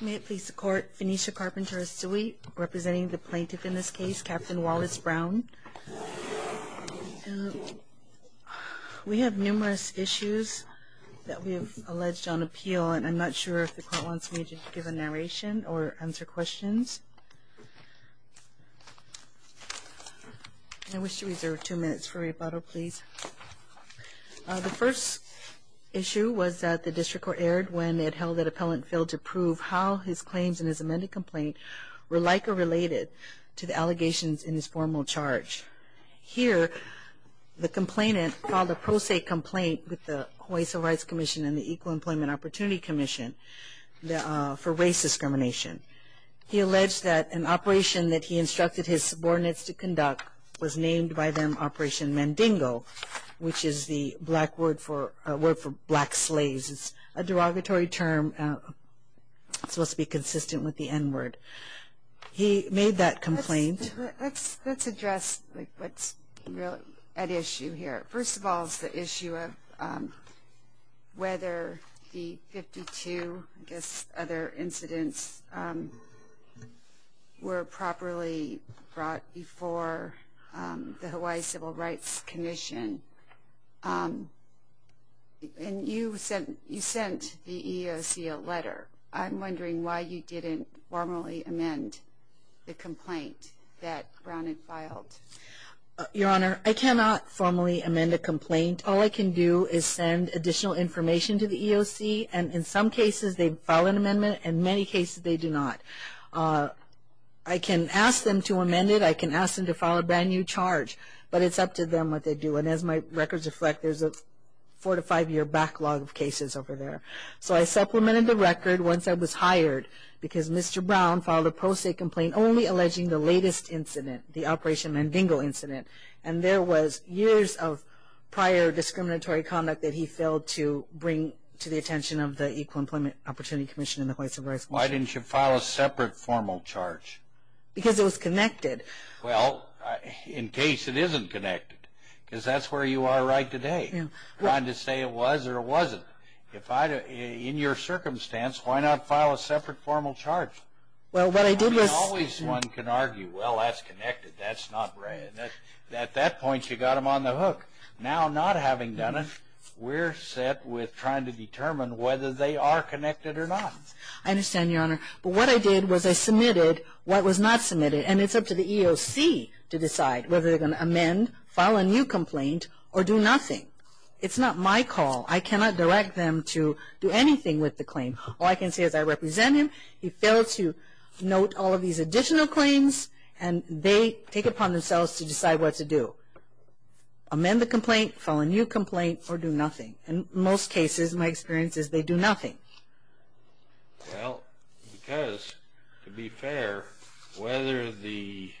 May it please the Court, Phoenicia Carpenter Asui, representing the plaintiff in this case, Capt. Wallace Brown. We have numerous issues that we have alleged on appeal, and I'm not sure if the Court wants me to give a narration or answer questions. I wish to reserve two minutes for rebuttal, please. The first issue was that the District Court erred when it held that an appellant failed to prove how his claims in his amended complaint were like or related to the allegations in his formal charge. Here, the complainant filed a pro se complaint with the Hawaii Civil Rights Commission and the Equal Employment Opportunity Commission for race discrimination. He alleged that an operation that he instructed his subordinates to conduct was named by them Operation Mandingo, which is the word for black slaves. It's a derogatory term that's supposed to be consistent with the N word. He made that complaint. Let's address what's really at issue here. First of all is the issue of whether the 52, I guess, other incidents were properly brought before the Hawaii Civil Rights Commission. And you sent the EEOC a letter. I'm wondering why you didn't formally amend the complaint that Brown had filed. Your Honor, I cannot formally amend a complaint. All I can do is send additional information to the EEOC. And in some cases, they file an amendment. In many cases, they do not. I can ask them to amend it. I can ask them to file a brand-new charge. But it's up to them what they do. And as my records reflect, there's a four- to five-year backlog of cases over there. So I supplemented the record once I was hired because Mr. Brown filed a pro se complaint only alleging the latest incident, the Operation Mandingo incident. And there was years of prior discriminatory conduct that he failed to bring to the attention of the Equal Employment Opportunity Commission and the Hawaii Civil Rights Commission. Why didn't you file a separate formal charge? Because it was connected. Well, in case it isn't connected. Because that's where you are right today. Trying to say it was or it wasn't. In your circumstance, why not file a separate formal charge? I mean, always one can argue, well, that's connected. That's not right. At that point, you got them on the hook. Now, not having done it, we're set with trying to determine whether they are connected or not. I understand, Your Honor. But what I did was I submitted what was not submitted. And it's up to the EEOC to decide whether they're going to amend, file a new complaint, or do nothing. It's not my call. I cannot direct them to do anything with the claim. All I can say is I represent him. He failed to note all of these additional claims, and they take it upon themselves to decide what to do. Amend the complaint, file a new complaint, or do nothing. In most cases, my experience is they do nothing. Well, because, to be fair, whether the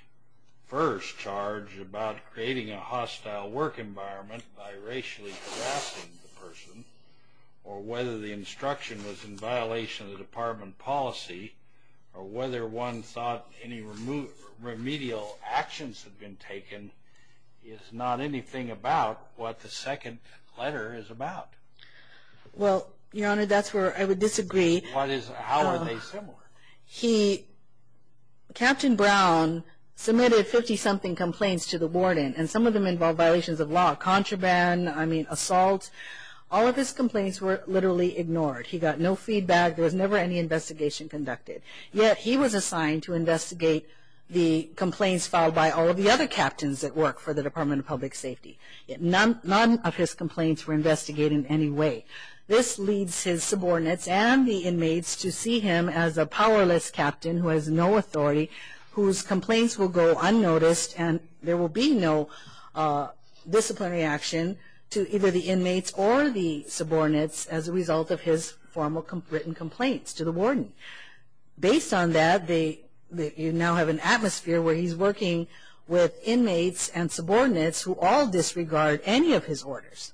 first charge about creating a hostile work environment by racially harassing the person or whether the instruction was in violation of the department policy or whether one thought any remedial actions had been taken is not anything about what the second letter is about. Well, Your Honor, that's where I would disagree. How are they similar? Captain Brown submitted 50-something complaints to the warden, and some of them involved violations of law. Contraband, I mean, assault. All of his complaints were literally ignored. He got no feedback. There was never any investigation conducted. Yet, he was assigned to investigate the complaints filed by all of the other captains that work for the Department of Public Safety. None of his complaints were investigated in any way. This leads his subordinates and the inmates to see him as a powerless captain who has no authority, whose complaints will go unnoticed, and there will be no disciplinary action to either the inmates or the subordinates as a result of his formal written complaints to the warden. Based on that, you now have an atmosphere where he's working with inmates and subordinates who all disregard any of his orders.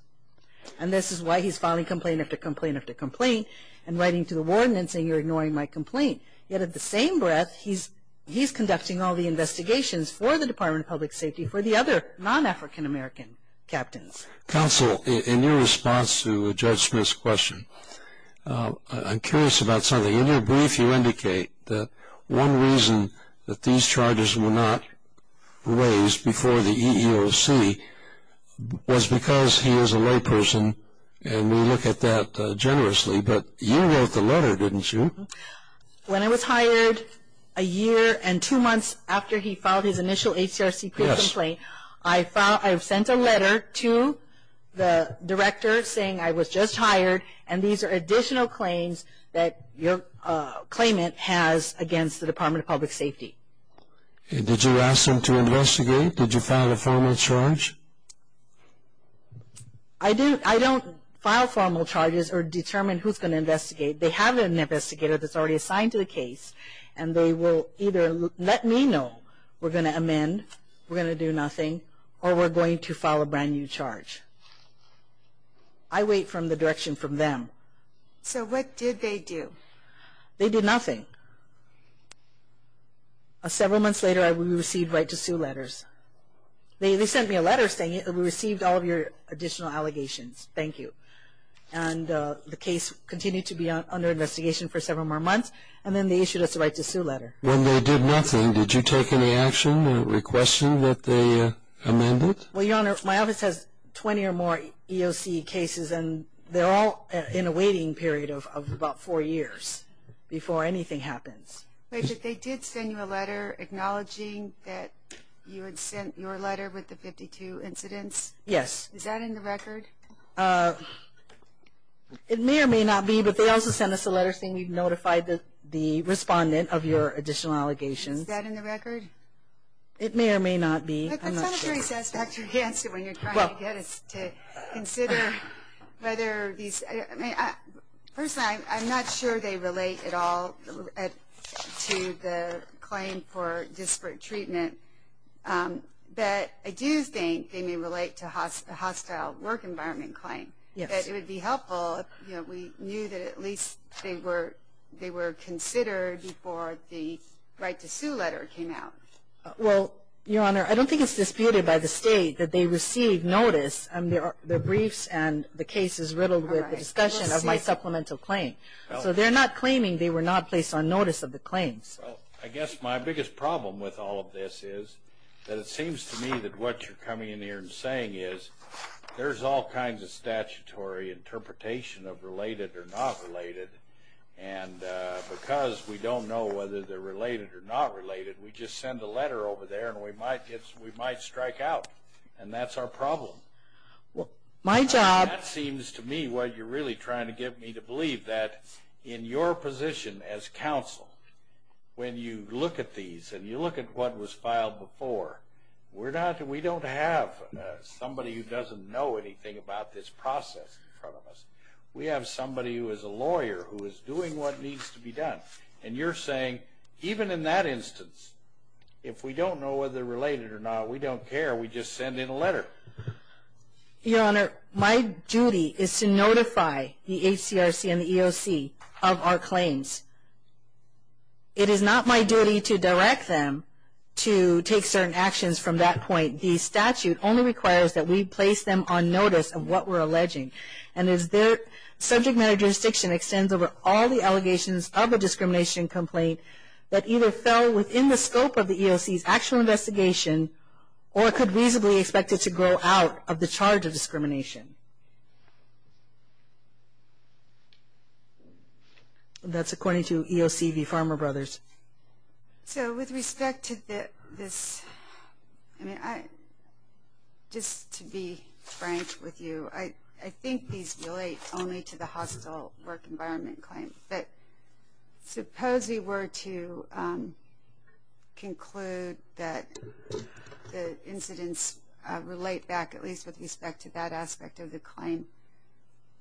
And this is why he's filing complaint after complaint after complaint and writing to the warden and saying you're ignoring my complaint. Yet, at the same breath, he's conducting all the investigations for the Department of Public Safety for the other non-African American captains. Counsel, in your response to Judge Smith's question, I'm curious about something. In your brief, you indicate that one reason that these charges were not raised before the EEOC was because he is a layperson and we look at that generously. But you wrote the letter, didn't you? When I was hired a year and two months after he filed his initial HCRC complaint, I sent a letter to the director saying I was just hired and these are additional claims that your claimant has against the Department of Public Safety. Did you ask them to investigate? Did you file a formal charge? I don't file formal charges or determine who's going to investigate. They have an investigator that's already assigned to the case and they will either let me know we're going to amend, we're going to do nothing, or we're going to file a brand new charge. I wait for the direction from them. So what did they do? They did nothing. Several months later, we received right-to-sue letters. They sent me a letter saying we received all of your additional allegations. Thank you. And the case continued to be under investigation for several more months and then they issued us a right-to-sue letter. When they did nothing, did you take any action or request that they amend it? Well, Your Honor, my office has 20 or more EOC cases and they're all in a waiting period of about four years before anything happens. Wait, but they did send you a letter acknowledging that you had sent your letter with the 52 incidents? Yes. Is that in the record? It may or may not be, but they also sent us a letter saying we notified the respondent of your additional allegations. Is that in the record? It may or may not be. That's not a very satisfactory answer when you're trying to get us to consider whether these – personally, I'm not sure they relate at all to the claim for disparate treatment, but I do think they may relate to the hostile work environment claim. It would be helpful if we knew that at least they were considered before the right-to-sue letter came out. Well, Your Honor, I don't think it's disputed by the State that they received notice. Their briefs and the case is riddled with the discussion of my supplemental claim. So they're not claiming they were not placed on notice of the claims. Well, I guess my biggest problem with all of this is that it seems to me that what you're coming in here and saying is there's all kinds of statutory interpretation of related or not related, and because we don't know whether they're related or not related, we just send a letter over there and we might strike out, and that's our problem. My job – That seems to me what you're really trying to get me to believe, that in your position as counsel, when you look at these and you look at what was filed before, we don't have somebody who doesn't know anything about this process in front of us. We have somebody who is a lawyer who is doing what needs to be done, and you're saying even in that instance, if we don't know whether they're related or not, we don't care, we just send in a letter. Your Honor, my duty is to notify the HCRC and the EOC of our claims. It is not my duty to direct them to take certain actions from that point. The statute only requires that we place them on notice of what we're alleging, and as their subject matter jurisdiction extends over all the allegations of a discrimination complaint that either fell within the scope of the EOC's actual investigation or could reasonably expect it to grow out of the charge of discrimination. That's according to EOC v. Farmer Brothers. So with respect to this, just to be frank with you, I think these relate only to the hostile work environment claim. But suppose we were to conclude that the incidents relate back, at least with respect to that aspect of the claim,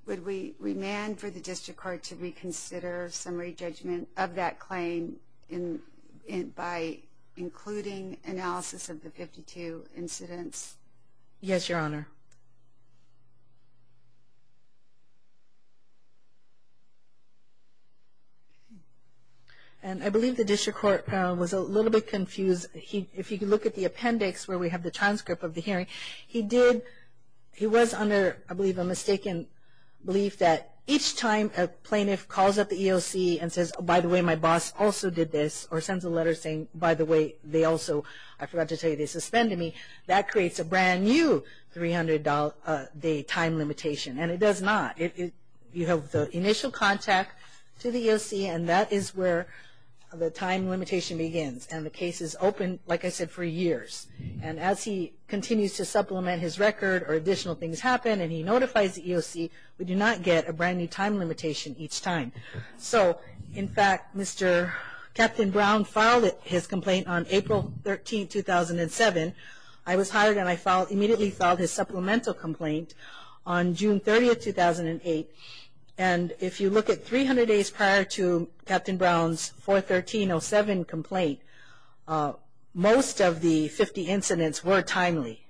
would we demand for the district court to reconsider summary judgment of that claim by including analysis of the 52 incidents? Yes, Your Honor. And I believe the district court was a little bit confused. If you could look at the appendix where we have the transcript of the hearing, he was under, I believe, a mistaken belief that each time a plaintiff calls up the EOC and says, oh, by the way, my boss also did this, or sends a letter saying, by the way, they also, I forgot to tell you, they suspended me, that creates a brand new 300-day time limitation. And it does not. You have the initial contact to the EOC, and that is where the time limitation begins. And the case is open, like I said, for years. And as he continues to supplement his record or additional things happen, and he notifies the EOC, we do not get a brand new time limitation each time. So, in fact, Mr. Captain Brown filed his complaint on April 13, 2007. I was hired, and I immediately filed his supplemental complaint on June 30, 2008. And if you look at 300 days prior to Captain Brown's 413-07 complaint, most of the 50 incidents were timely,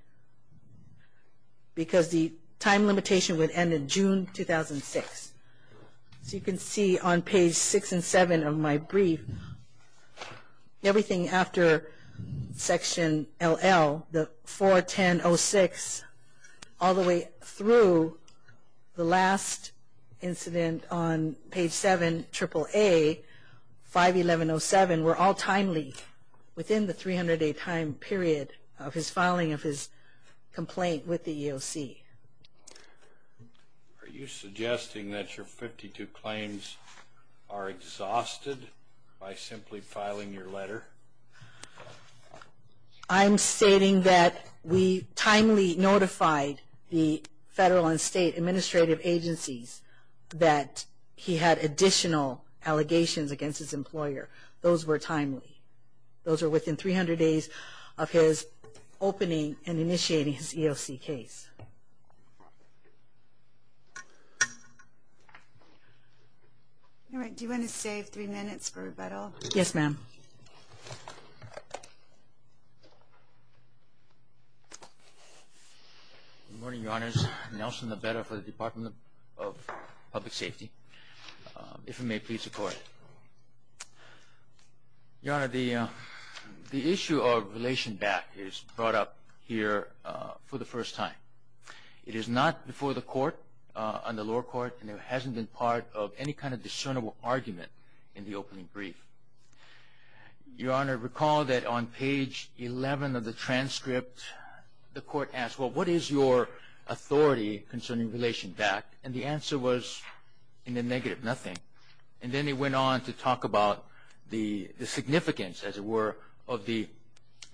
because the time limitation would end in June 2006. So you can see on page 6 and 7 of my brief, everything after section LL, the 410-06, all the way through the last incident on page 7, triple A, 511-07, were all timely within the 300-day time period of his filing of his complaint with the EOC. Are you suggesting that your 52 claims are exhausted by simply filing your letter? I'm stating that we timely notified the federal and state administrative agencies that he had additional allegations against his employer. Those were timely. Those were within 300 days of his opening and initiating his EOC case. All right. Do you want to save three minutes for rebuttal? Yes, ma'am. Good morning, Your Honors. Nelson Labetta for the Department of Public Safety. If you may please record. Your Honor, the issue of relation back is brought up here for the first time. It is not before the court, on the lower court, and it hasn't been part of any kind of discernible argument in the opening brief. Your Honor, recall that on page 11 of the transcript, the court asked, well, what is your authority concerning relation back? And the answer was in the negative, nothing. And then they went on to talk about the significance, as it were, of the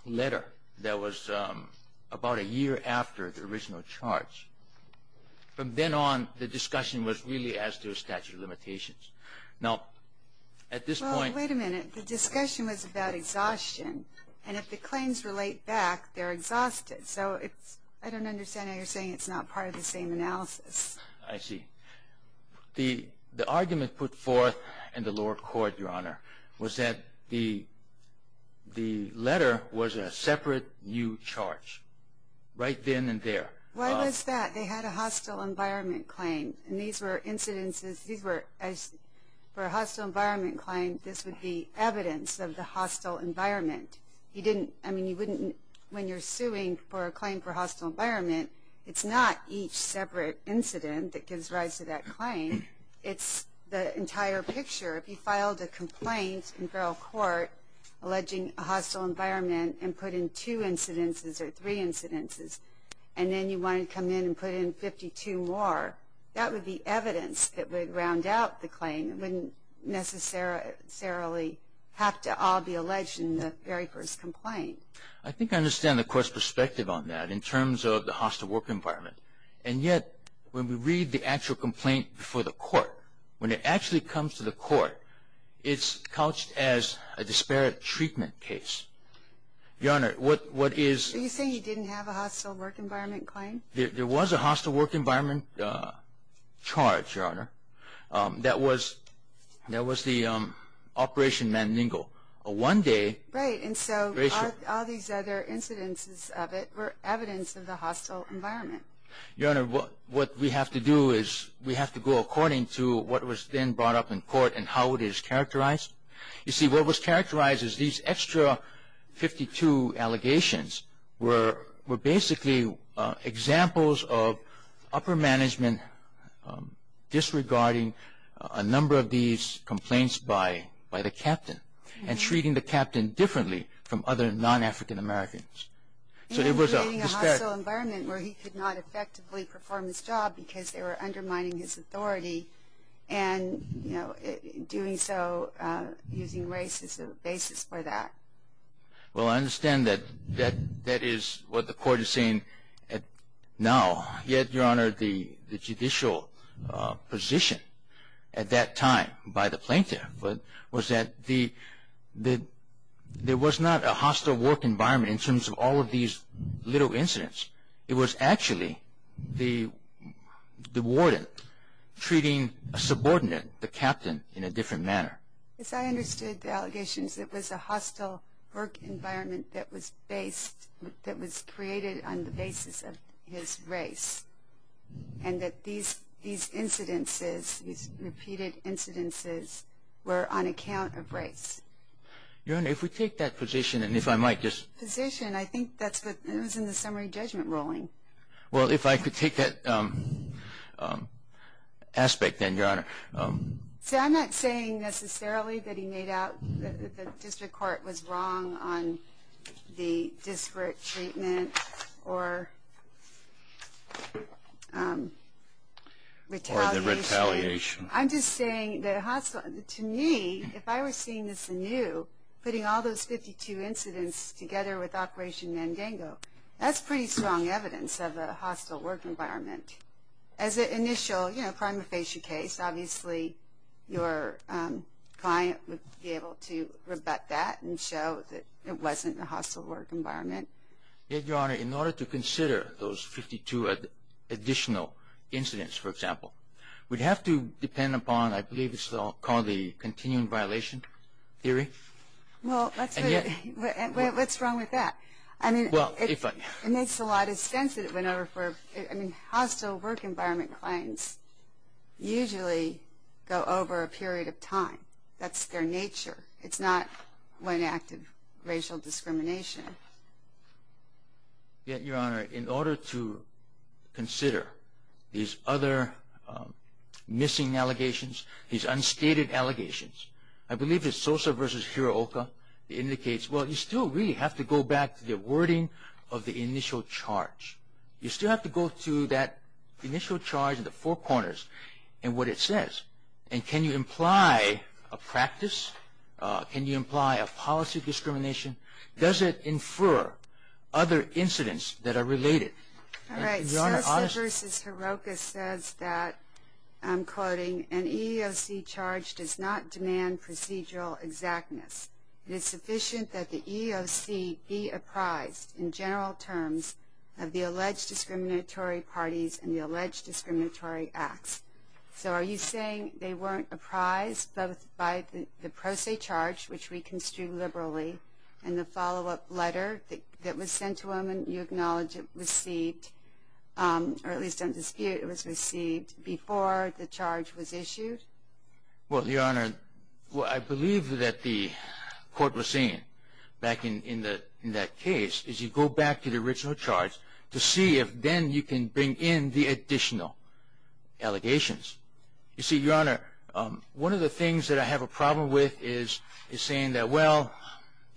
letter that was about a year after the original charge. From then on, the discussion was really as to statute of limitations. Now, at this point – Well, wait a minute. The discussion was about exhaustion. And if the claims relate back, they're exhausted. So I don't understand how you're saying it's not part of the same analysis. I see. The argument put forth in the lower court, Your Honor, was that the letter was a separate new charge right then and there. Why was that? They had a hostile environment claim. And these were incidences – for a hostile environment claim, this would be evidence of the hostile environment. I mean, you wouldn't – when you're suing for a claim for hostile environment, it's not each separate incident that gives rise to that claim. It's the entire picture. If you filed a complaint in feral court alleging a hostile environment and put in two incidences or three incidences, and then you wanted to come in and put in 52 more, that would be evidence that would round out the claim. It wouldn't necessarily have to all be alleged in the very first complaint. I think I understand the court's perspective on that in terms of the hostile work environment. And yet, when we read the actual complaint before the court, when it actually comes to the court, it's couched as a disparate treatment case. Your Honor, what is – So you say you didn't have a hostile work environment claim? There was a hostile work environment charge, Your Honor. That was the Operation Manningel. One day – Right, and so all these other incidences of it were evidence of the hostile environment. Your Honor, what we have to do is we have to go according to what was then brought up in court and how it is characterized. You see, what was characterized is these extra 52 allegations were basically examples of upper management disregarding a number of these complaints by the captain and treating the captain differently from other non-African Americans. So it was a – He was creating a hostile environment where he could not effectively perform his job because they were undermining his authority and doing so using race as a basis for that. Well, I understand that that is what the court is saying now. Yet, Your Honor, the judicial position at that time by the plaintiff was that there was not a hostile work environment in terms of all of these little incidents. It was actually the warden treating a subordinate, the captain, in a different manner. Yes, I understood the allegations. It was a hostile work environment that was based – that was created on the basis of his race and that these incidences, these repeated incidences were on account of race. Your Honor, if we take that position and if I might just – I think it was in the summary judgment ruling. Well, if I could take that aspect then, Your Honor. See, I'm not saying necessarily that he made out that the district court was wrong on the disparate treatment or retaliation. I'm just saying that to me, if I were seeing this anew, putting all those 52 incidents together with Operation Mandango, that's pretty strong evidence of a hostile work environment. As an initial, you know, prima facie case, obviously your client would be able to rebut that and show that it wasn't a hostile work environment. Yet, Your Honor, in order to consider those 52 additional incidents, for example, we'd have to depend upon, I believe it's called the continuing violation theory. Well, what's wrong with that? I mean, it makes a lot of sense that it went over for – I mean, hostile work environment claims usually go over a period of time. That's their nature. It's not one act of racial discrimination. Yet, Your Honor, in order to consider these other missing allegations, these unstated allegations, I believe it's Sosa v. Hirooka that indicates, well, you still really have to go back to the wording of the initial charge. You still have to go to that initial charge in the four corners and what it says. And can you imply a practice? Can you imply a policy discrimination? Does it infer other incidents that are related? All right. Sosa v. Hirooka says that, I'm quoting, an EEOC charge does not demand procedural exactness. It is sufficient that the EEOC be apprised, in general terms, of the alleged discriminatory parties and the alleged discriminatory acts. So are you saying they weren't apprised both by the pro se charge, which we construe liberally, and the follow-up letter that was sent to them and you acknowledge it was received, or at least in dispute, it was received before the charge was issued? Well, Your Honor, I believe that the court was saying back in that case is you go back to the original charge to see if then you can bring in the additional allegations. You see, Your Honor, one of the things that I have a problem with is saying that, well,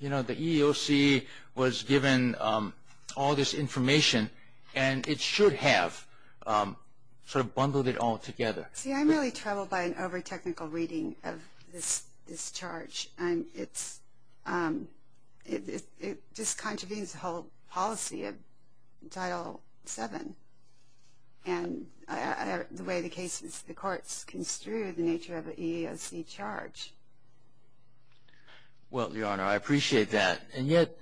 you know, the EEOC was given all this information and it should have sort of bundled it all together. See, I'm really troubled by an over-technical reading of this charge. And it just contravenes the whole policy of Title VII and the way the case is, the courts construe the nature of an EEOC charge. Well, Your Honor, I appreciate that. And yet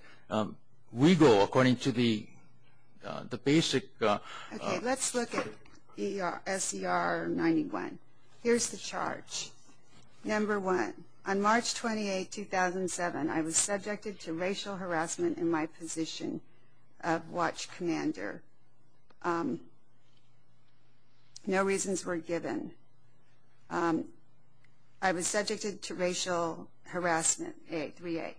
we go according to the basic. Okay, let's look at SCR 91. Here's the charge. Number one, on March 28, 2007, I was subjected to racial harassment in my position of watch commander. No reasons were given. I was subjected to racial harassment, 3A.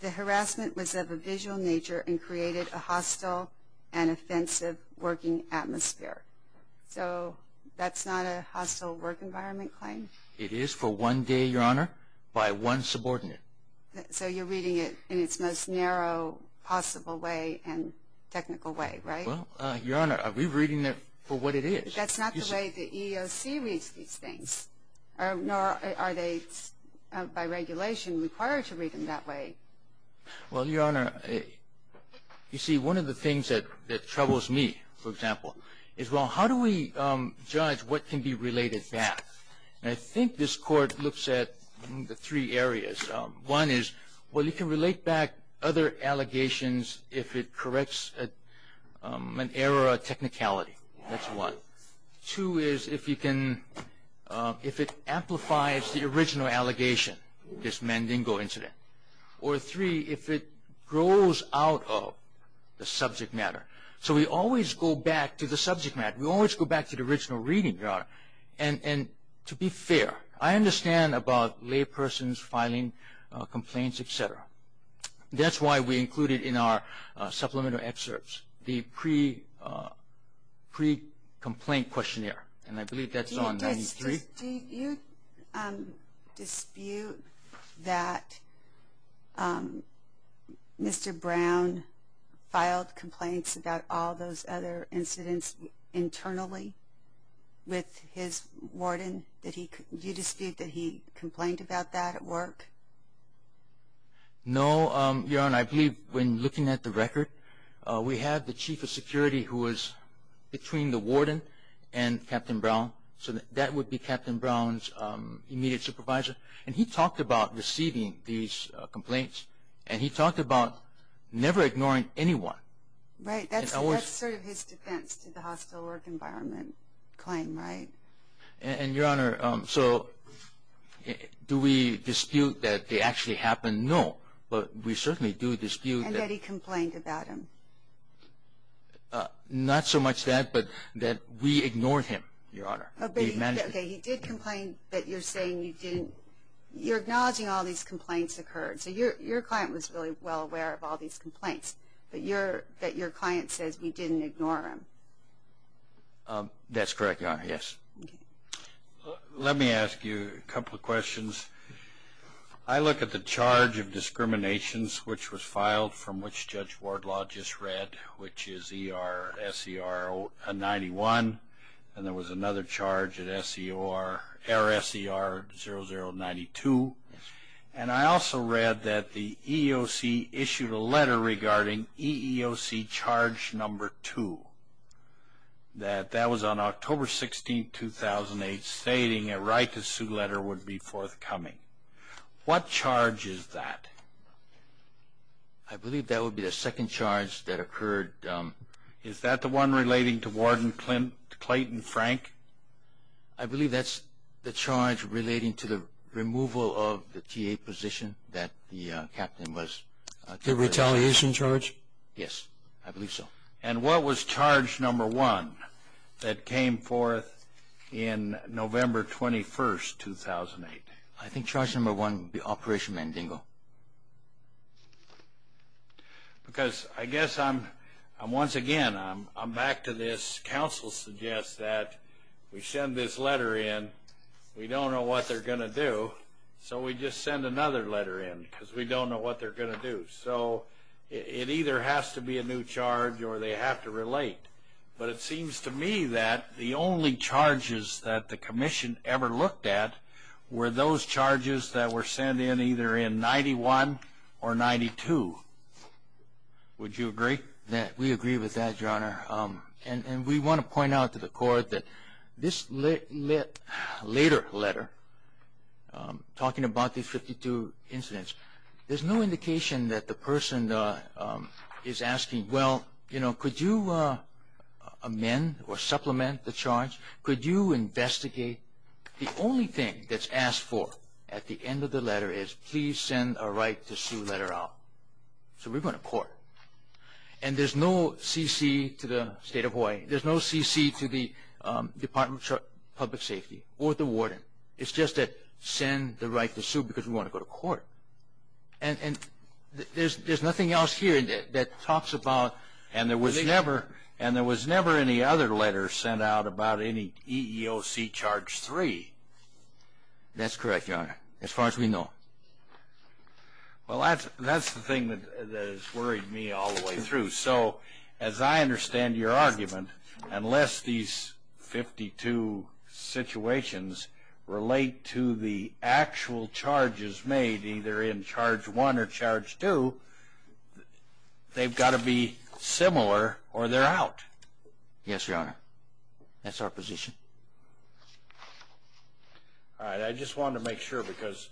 The harassment was of a visual nature and created a hostile and offensive working atmosphere. So that's not a hostile work environment claim? It is for one day, Your Honor, by one subordinate. So you're reading it in its most narrow possible way and technical way, right? Well, Your Honor, are we reading it for what it is? That's not the way the EEOC reads these things. Nor are they, by regulation, required to read them that way. Well, Your Honor, you see, one of the things that troubles me, for example, is, well, how do we judge what can be related back? And I think this Court looks at the three areas. One is, well, you can relate back other allegations if it corrects an error of technicality. That's one. Two is if it amplifies the original allegation, this Mandingo incident. Or three, if it grows out of the subject matter. So we always go back to the subject matter. We always go back to the original reading, Your Honor. And to be fair, I understand about laypersons filing complaints, et cetera. That's why we included in our supplemental excerpts the pre-complaint questionnaire. And I believe that's on 93. Do you dispute that Mr. Brown filed complaints about all those other incidents internally with his warden? Do you dispute that he complained about that at work? No, Your Honor. I believe when looking at the record, we had the chief of security who was between the warden and Captain Brown. So that would be Captain Brown's immediate supervisor. And he talked about receiving these complaints, and he talked about never ignoring anyone. Right. That's sort of his defense to the hostile work environment claim, right? And, Your Honor, so do we dispute that they actually happened? No. But we certainly do dispute that. And that he complained about them? Not so much that, but that we ignored him, Your Honor. Okay. He did complain that you're saying you didn't. You're acknowledging all these complaints occurred. So your client was really well aware of all these complaints, but that your client says we didn't ignore him. That's correct, Your Honor. Yes. Let me ask you a couple of questions. I look at the charge of discriminations, which was filed from which Judge Wardlaw just read, which is ER-SER-91. And there was another charge at SER-0092. And I also read that the EEOC issued a letter regarding EEOC charge number two. That that was on October 16, 2008, stating a right-to-sue letter would be forthcoming. What charge is that? I believe that would be the second charge that occurred. Is that the one relating to Warden Clayton Frank? I believe that's the charge relating to the removal of the TA position that the captain was. The retaliation charge? Yes, I believe so. And what was charge number one that came forth in November 21, 2008? I think charge number one would be Operation Mandingo. Because I guess I'm, once again, I'm back to this. Counsel suggests that we send this letter in. We don't know what they're going to do. So we just send another letter in because we don't know what they're going to do. So it either has to be a new charge or they have to relate. But it seems to me that the only charges that the commission ever looked at were those charges that were sent in either in 91 or 92. Would you agree? We agree with that, Your Honor. And we want to point out to the Court that this later letter, talking about these 52 incidents, there's no indication that the person is asking, well, you know, could you amend or supplement the charge? Could you investigate? The only thing that's asked for at the end of the letter is please send a right to sue letter out. So we're going to court. And there's no CC to the State of Hawaii. There's no CC to the Department of Public Safety or the warden. It's just that send the right to sue because we want to go to court. And there's nothing else here that talks about the thing. And there was never any other letter sent out about any EEOC charge 3. That's correct, Your Honor, as far as we know. Well, that's the thing that has worried me all the way through. So as I understand your argument, unless these 52 situations relate to the actual charges made, either in charge 1 or charge 2, they've got to be similar or they're out. Yes, Your Honor. That's our position. All right. I just wanted to make sure because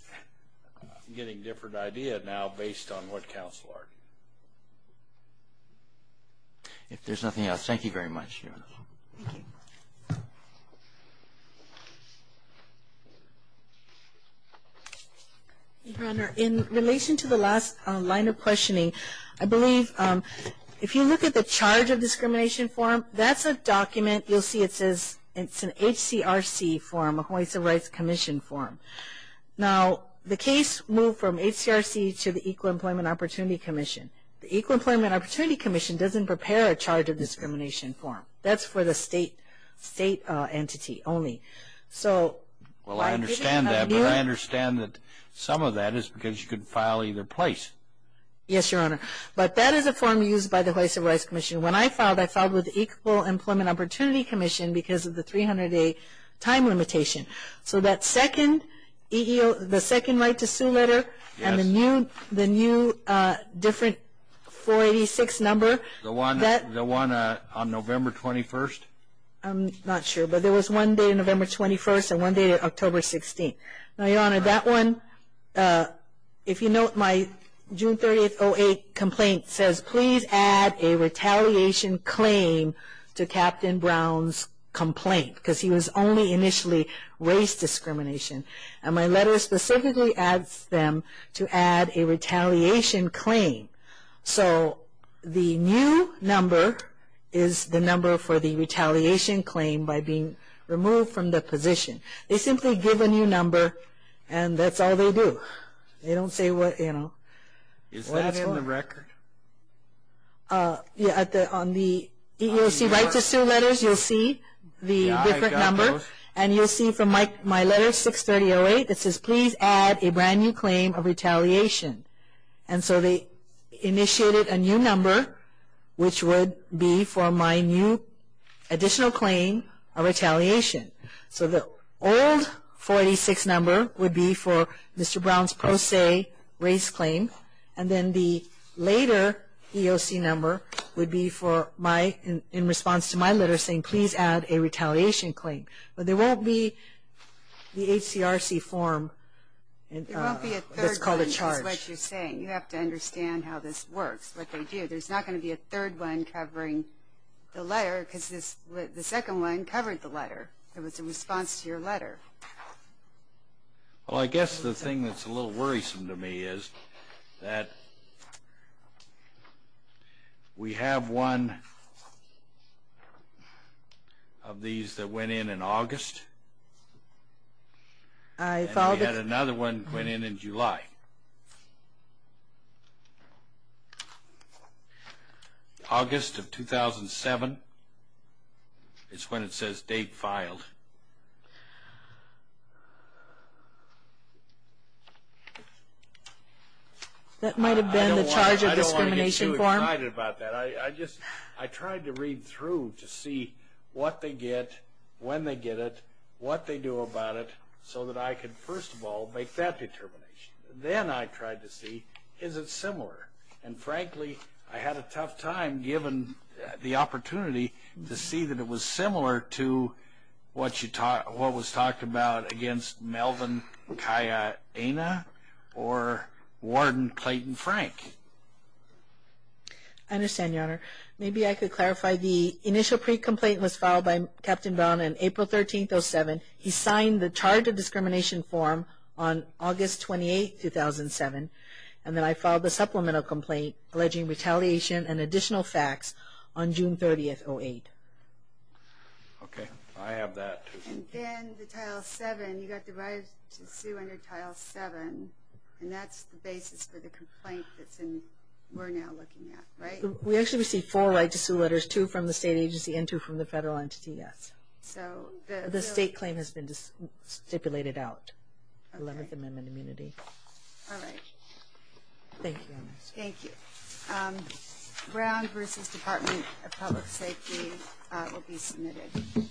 I'm getting a different idea now based on what counsel argued. If there's nothing else, thank you very much, Your Honor. Thank you. Your Honor, in relation to the last line of questioning, I believe if you look at the charge of discrimination form, that's a document. You'll see it says it's an HCRC form, a Hawaii Civil Rights Commission form. Now, the case moved from HCRC to the Equal Employment Opportunity Commission. The Equal Employment Opportunity Commission doesn't prepare a charge of discrimination form. That's for the state entity only. Well, I understand that, but I understand that some of that is because you can file either place. Yes, Your Honor. But that is a form used by the Hawaii Civil Rights Commission. When I filed, I filed with the Equal Employment Opportunity Commission because of the 300-day time limitation. So that second right to sue letter and the new different 486 number. The one on November 21st? I'm not sure, but there was one dated November 21st and one dated October 16th. Now, Your Honor, that one, if you note my June 30th, 08 complaint says, please add a retaliation claim to Captain Brown's complaint because he was only initially race discrimination. And my letter specifically adds them to add a retaliation claim. So the new number is the number for the retaliation claim by being removed from the position. They simply give a new number and that's all they do. They don't say what, you know. Is that on the record? Yeah, on the EEOC right to sue letters, you'll see the different number. And you'll see from my letter 630-08, it says, please add a brand new claim of retaliation. And so they initiated a new number, which would be for my new additional claim of retaliation. So the old 486 number would be for Mr. Brown's pro se race claim. And then the later EEOC number would be in response to my letter saying, please add a retaliation claim. But there won't be the HCRC form that's called a charge. There won't be a third one, is what you're saying. You have to understand how this works, what they do. There's not going to be a third one covering the letter because the second one covered the letter. It was a response to your letter. Well, I guess the thing that's a little worrisome to me is that we have one of these that went in in August. And we had another one that went in in July. August of 2007 is when it says date filed. That might have been the charge of discrimination form. I tried to read through to see what they get, when they get it, what they do about it, so that I could, first of all, make that determination. Then I tried to see, is it similar? And, frankly, I had a tough time given the opportunity to see that it was similar to what was talked about against Melvin Kaya-Ana or Warden Clayton Frank. I understand, Your Honor. Maybe I could clarify. The initial pre-complaint was filed by Captain Brown on April 13, 2007. He signed the charge of discrimination form on August 28, 2007. And then I filed the supplemental complaint alleging retaliation and additional facts on June 30, 2008. Okay. I have that. And then the Title VII, you got the right to sue under Title VII. And that's the basis for the complaint that we're now looking at, right? We actually received four right to sue letters, two from the state agency and two from the federal entity, yes. So the state claim has been stipulated out, 11th Amendment immunity. All right. Thank you, Your Honor. Thank you. Brown v. Department of Public Safety will be submitted.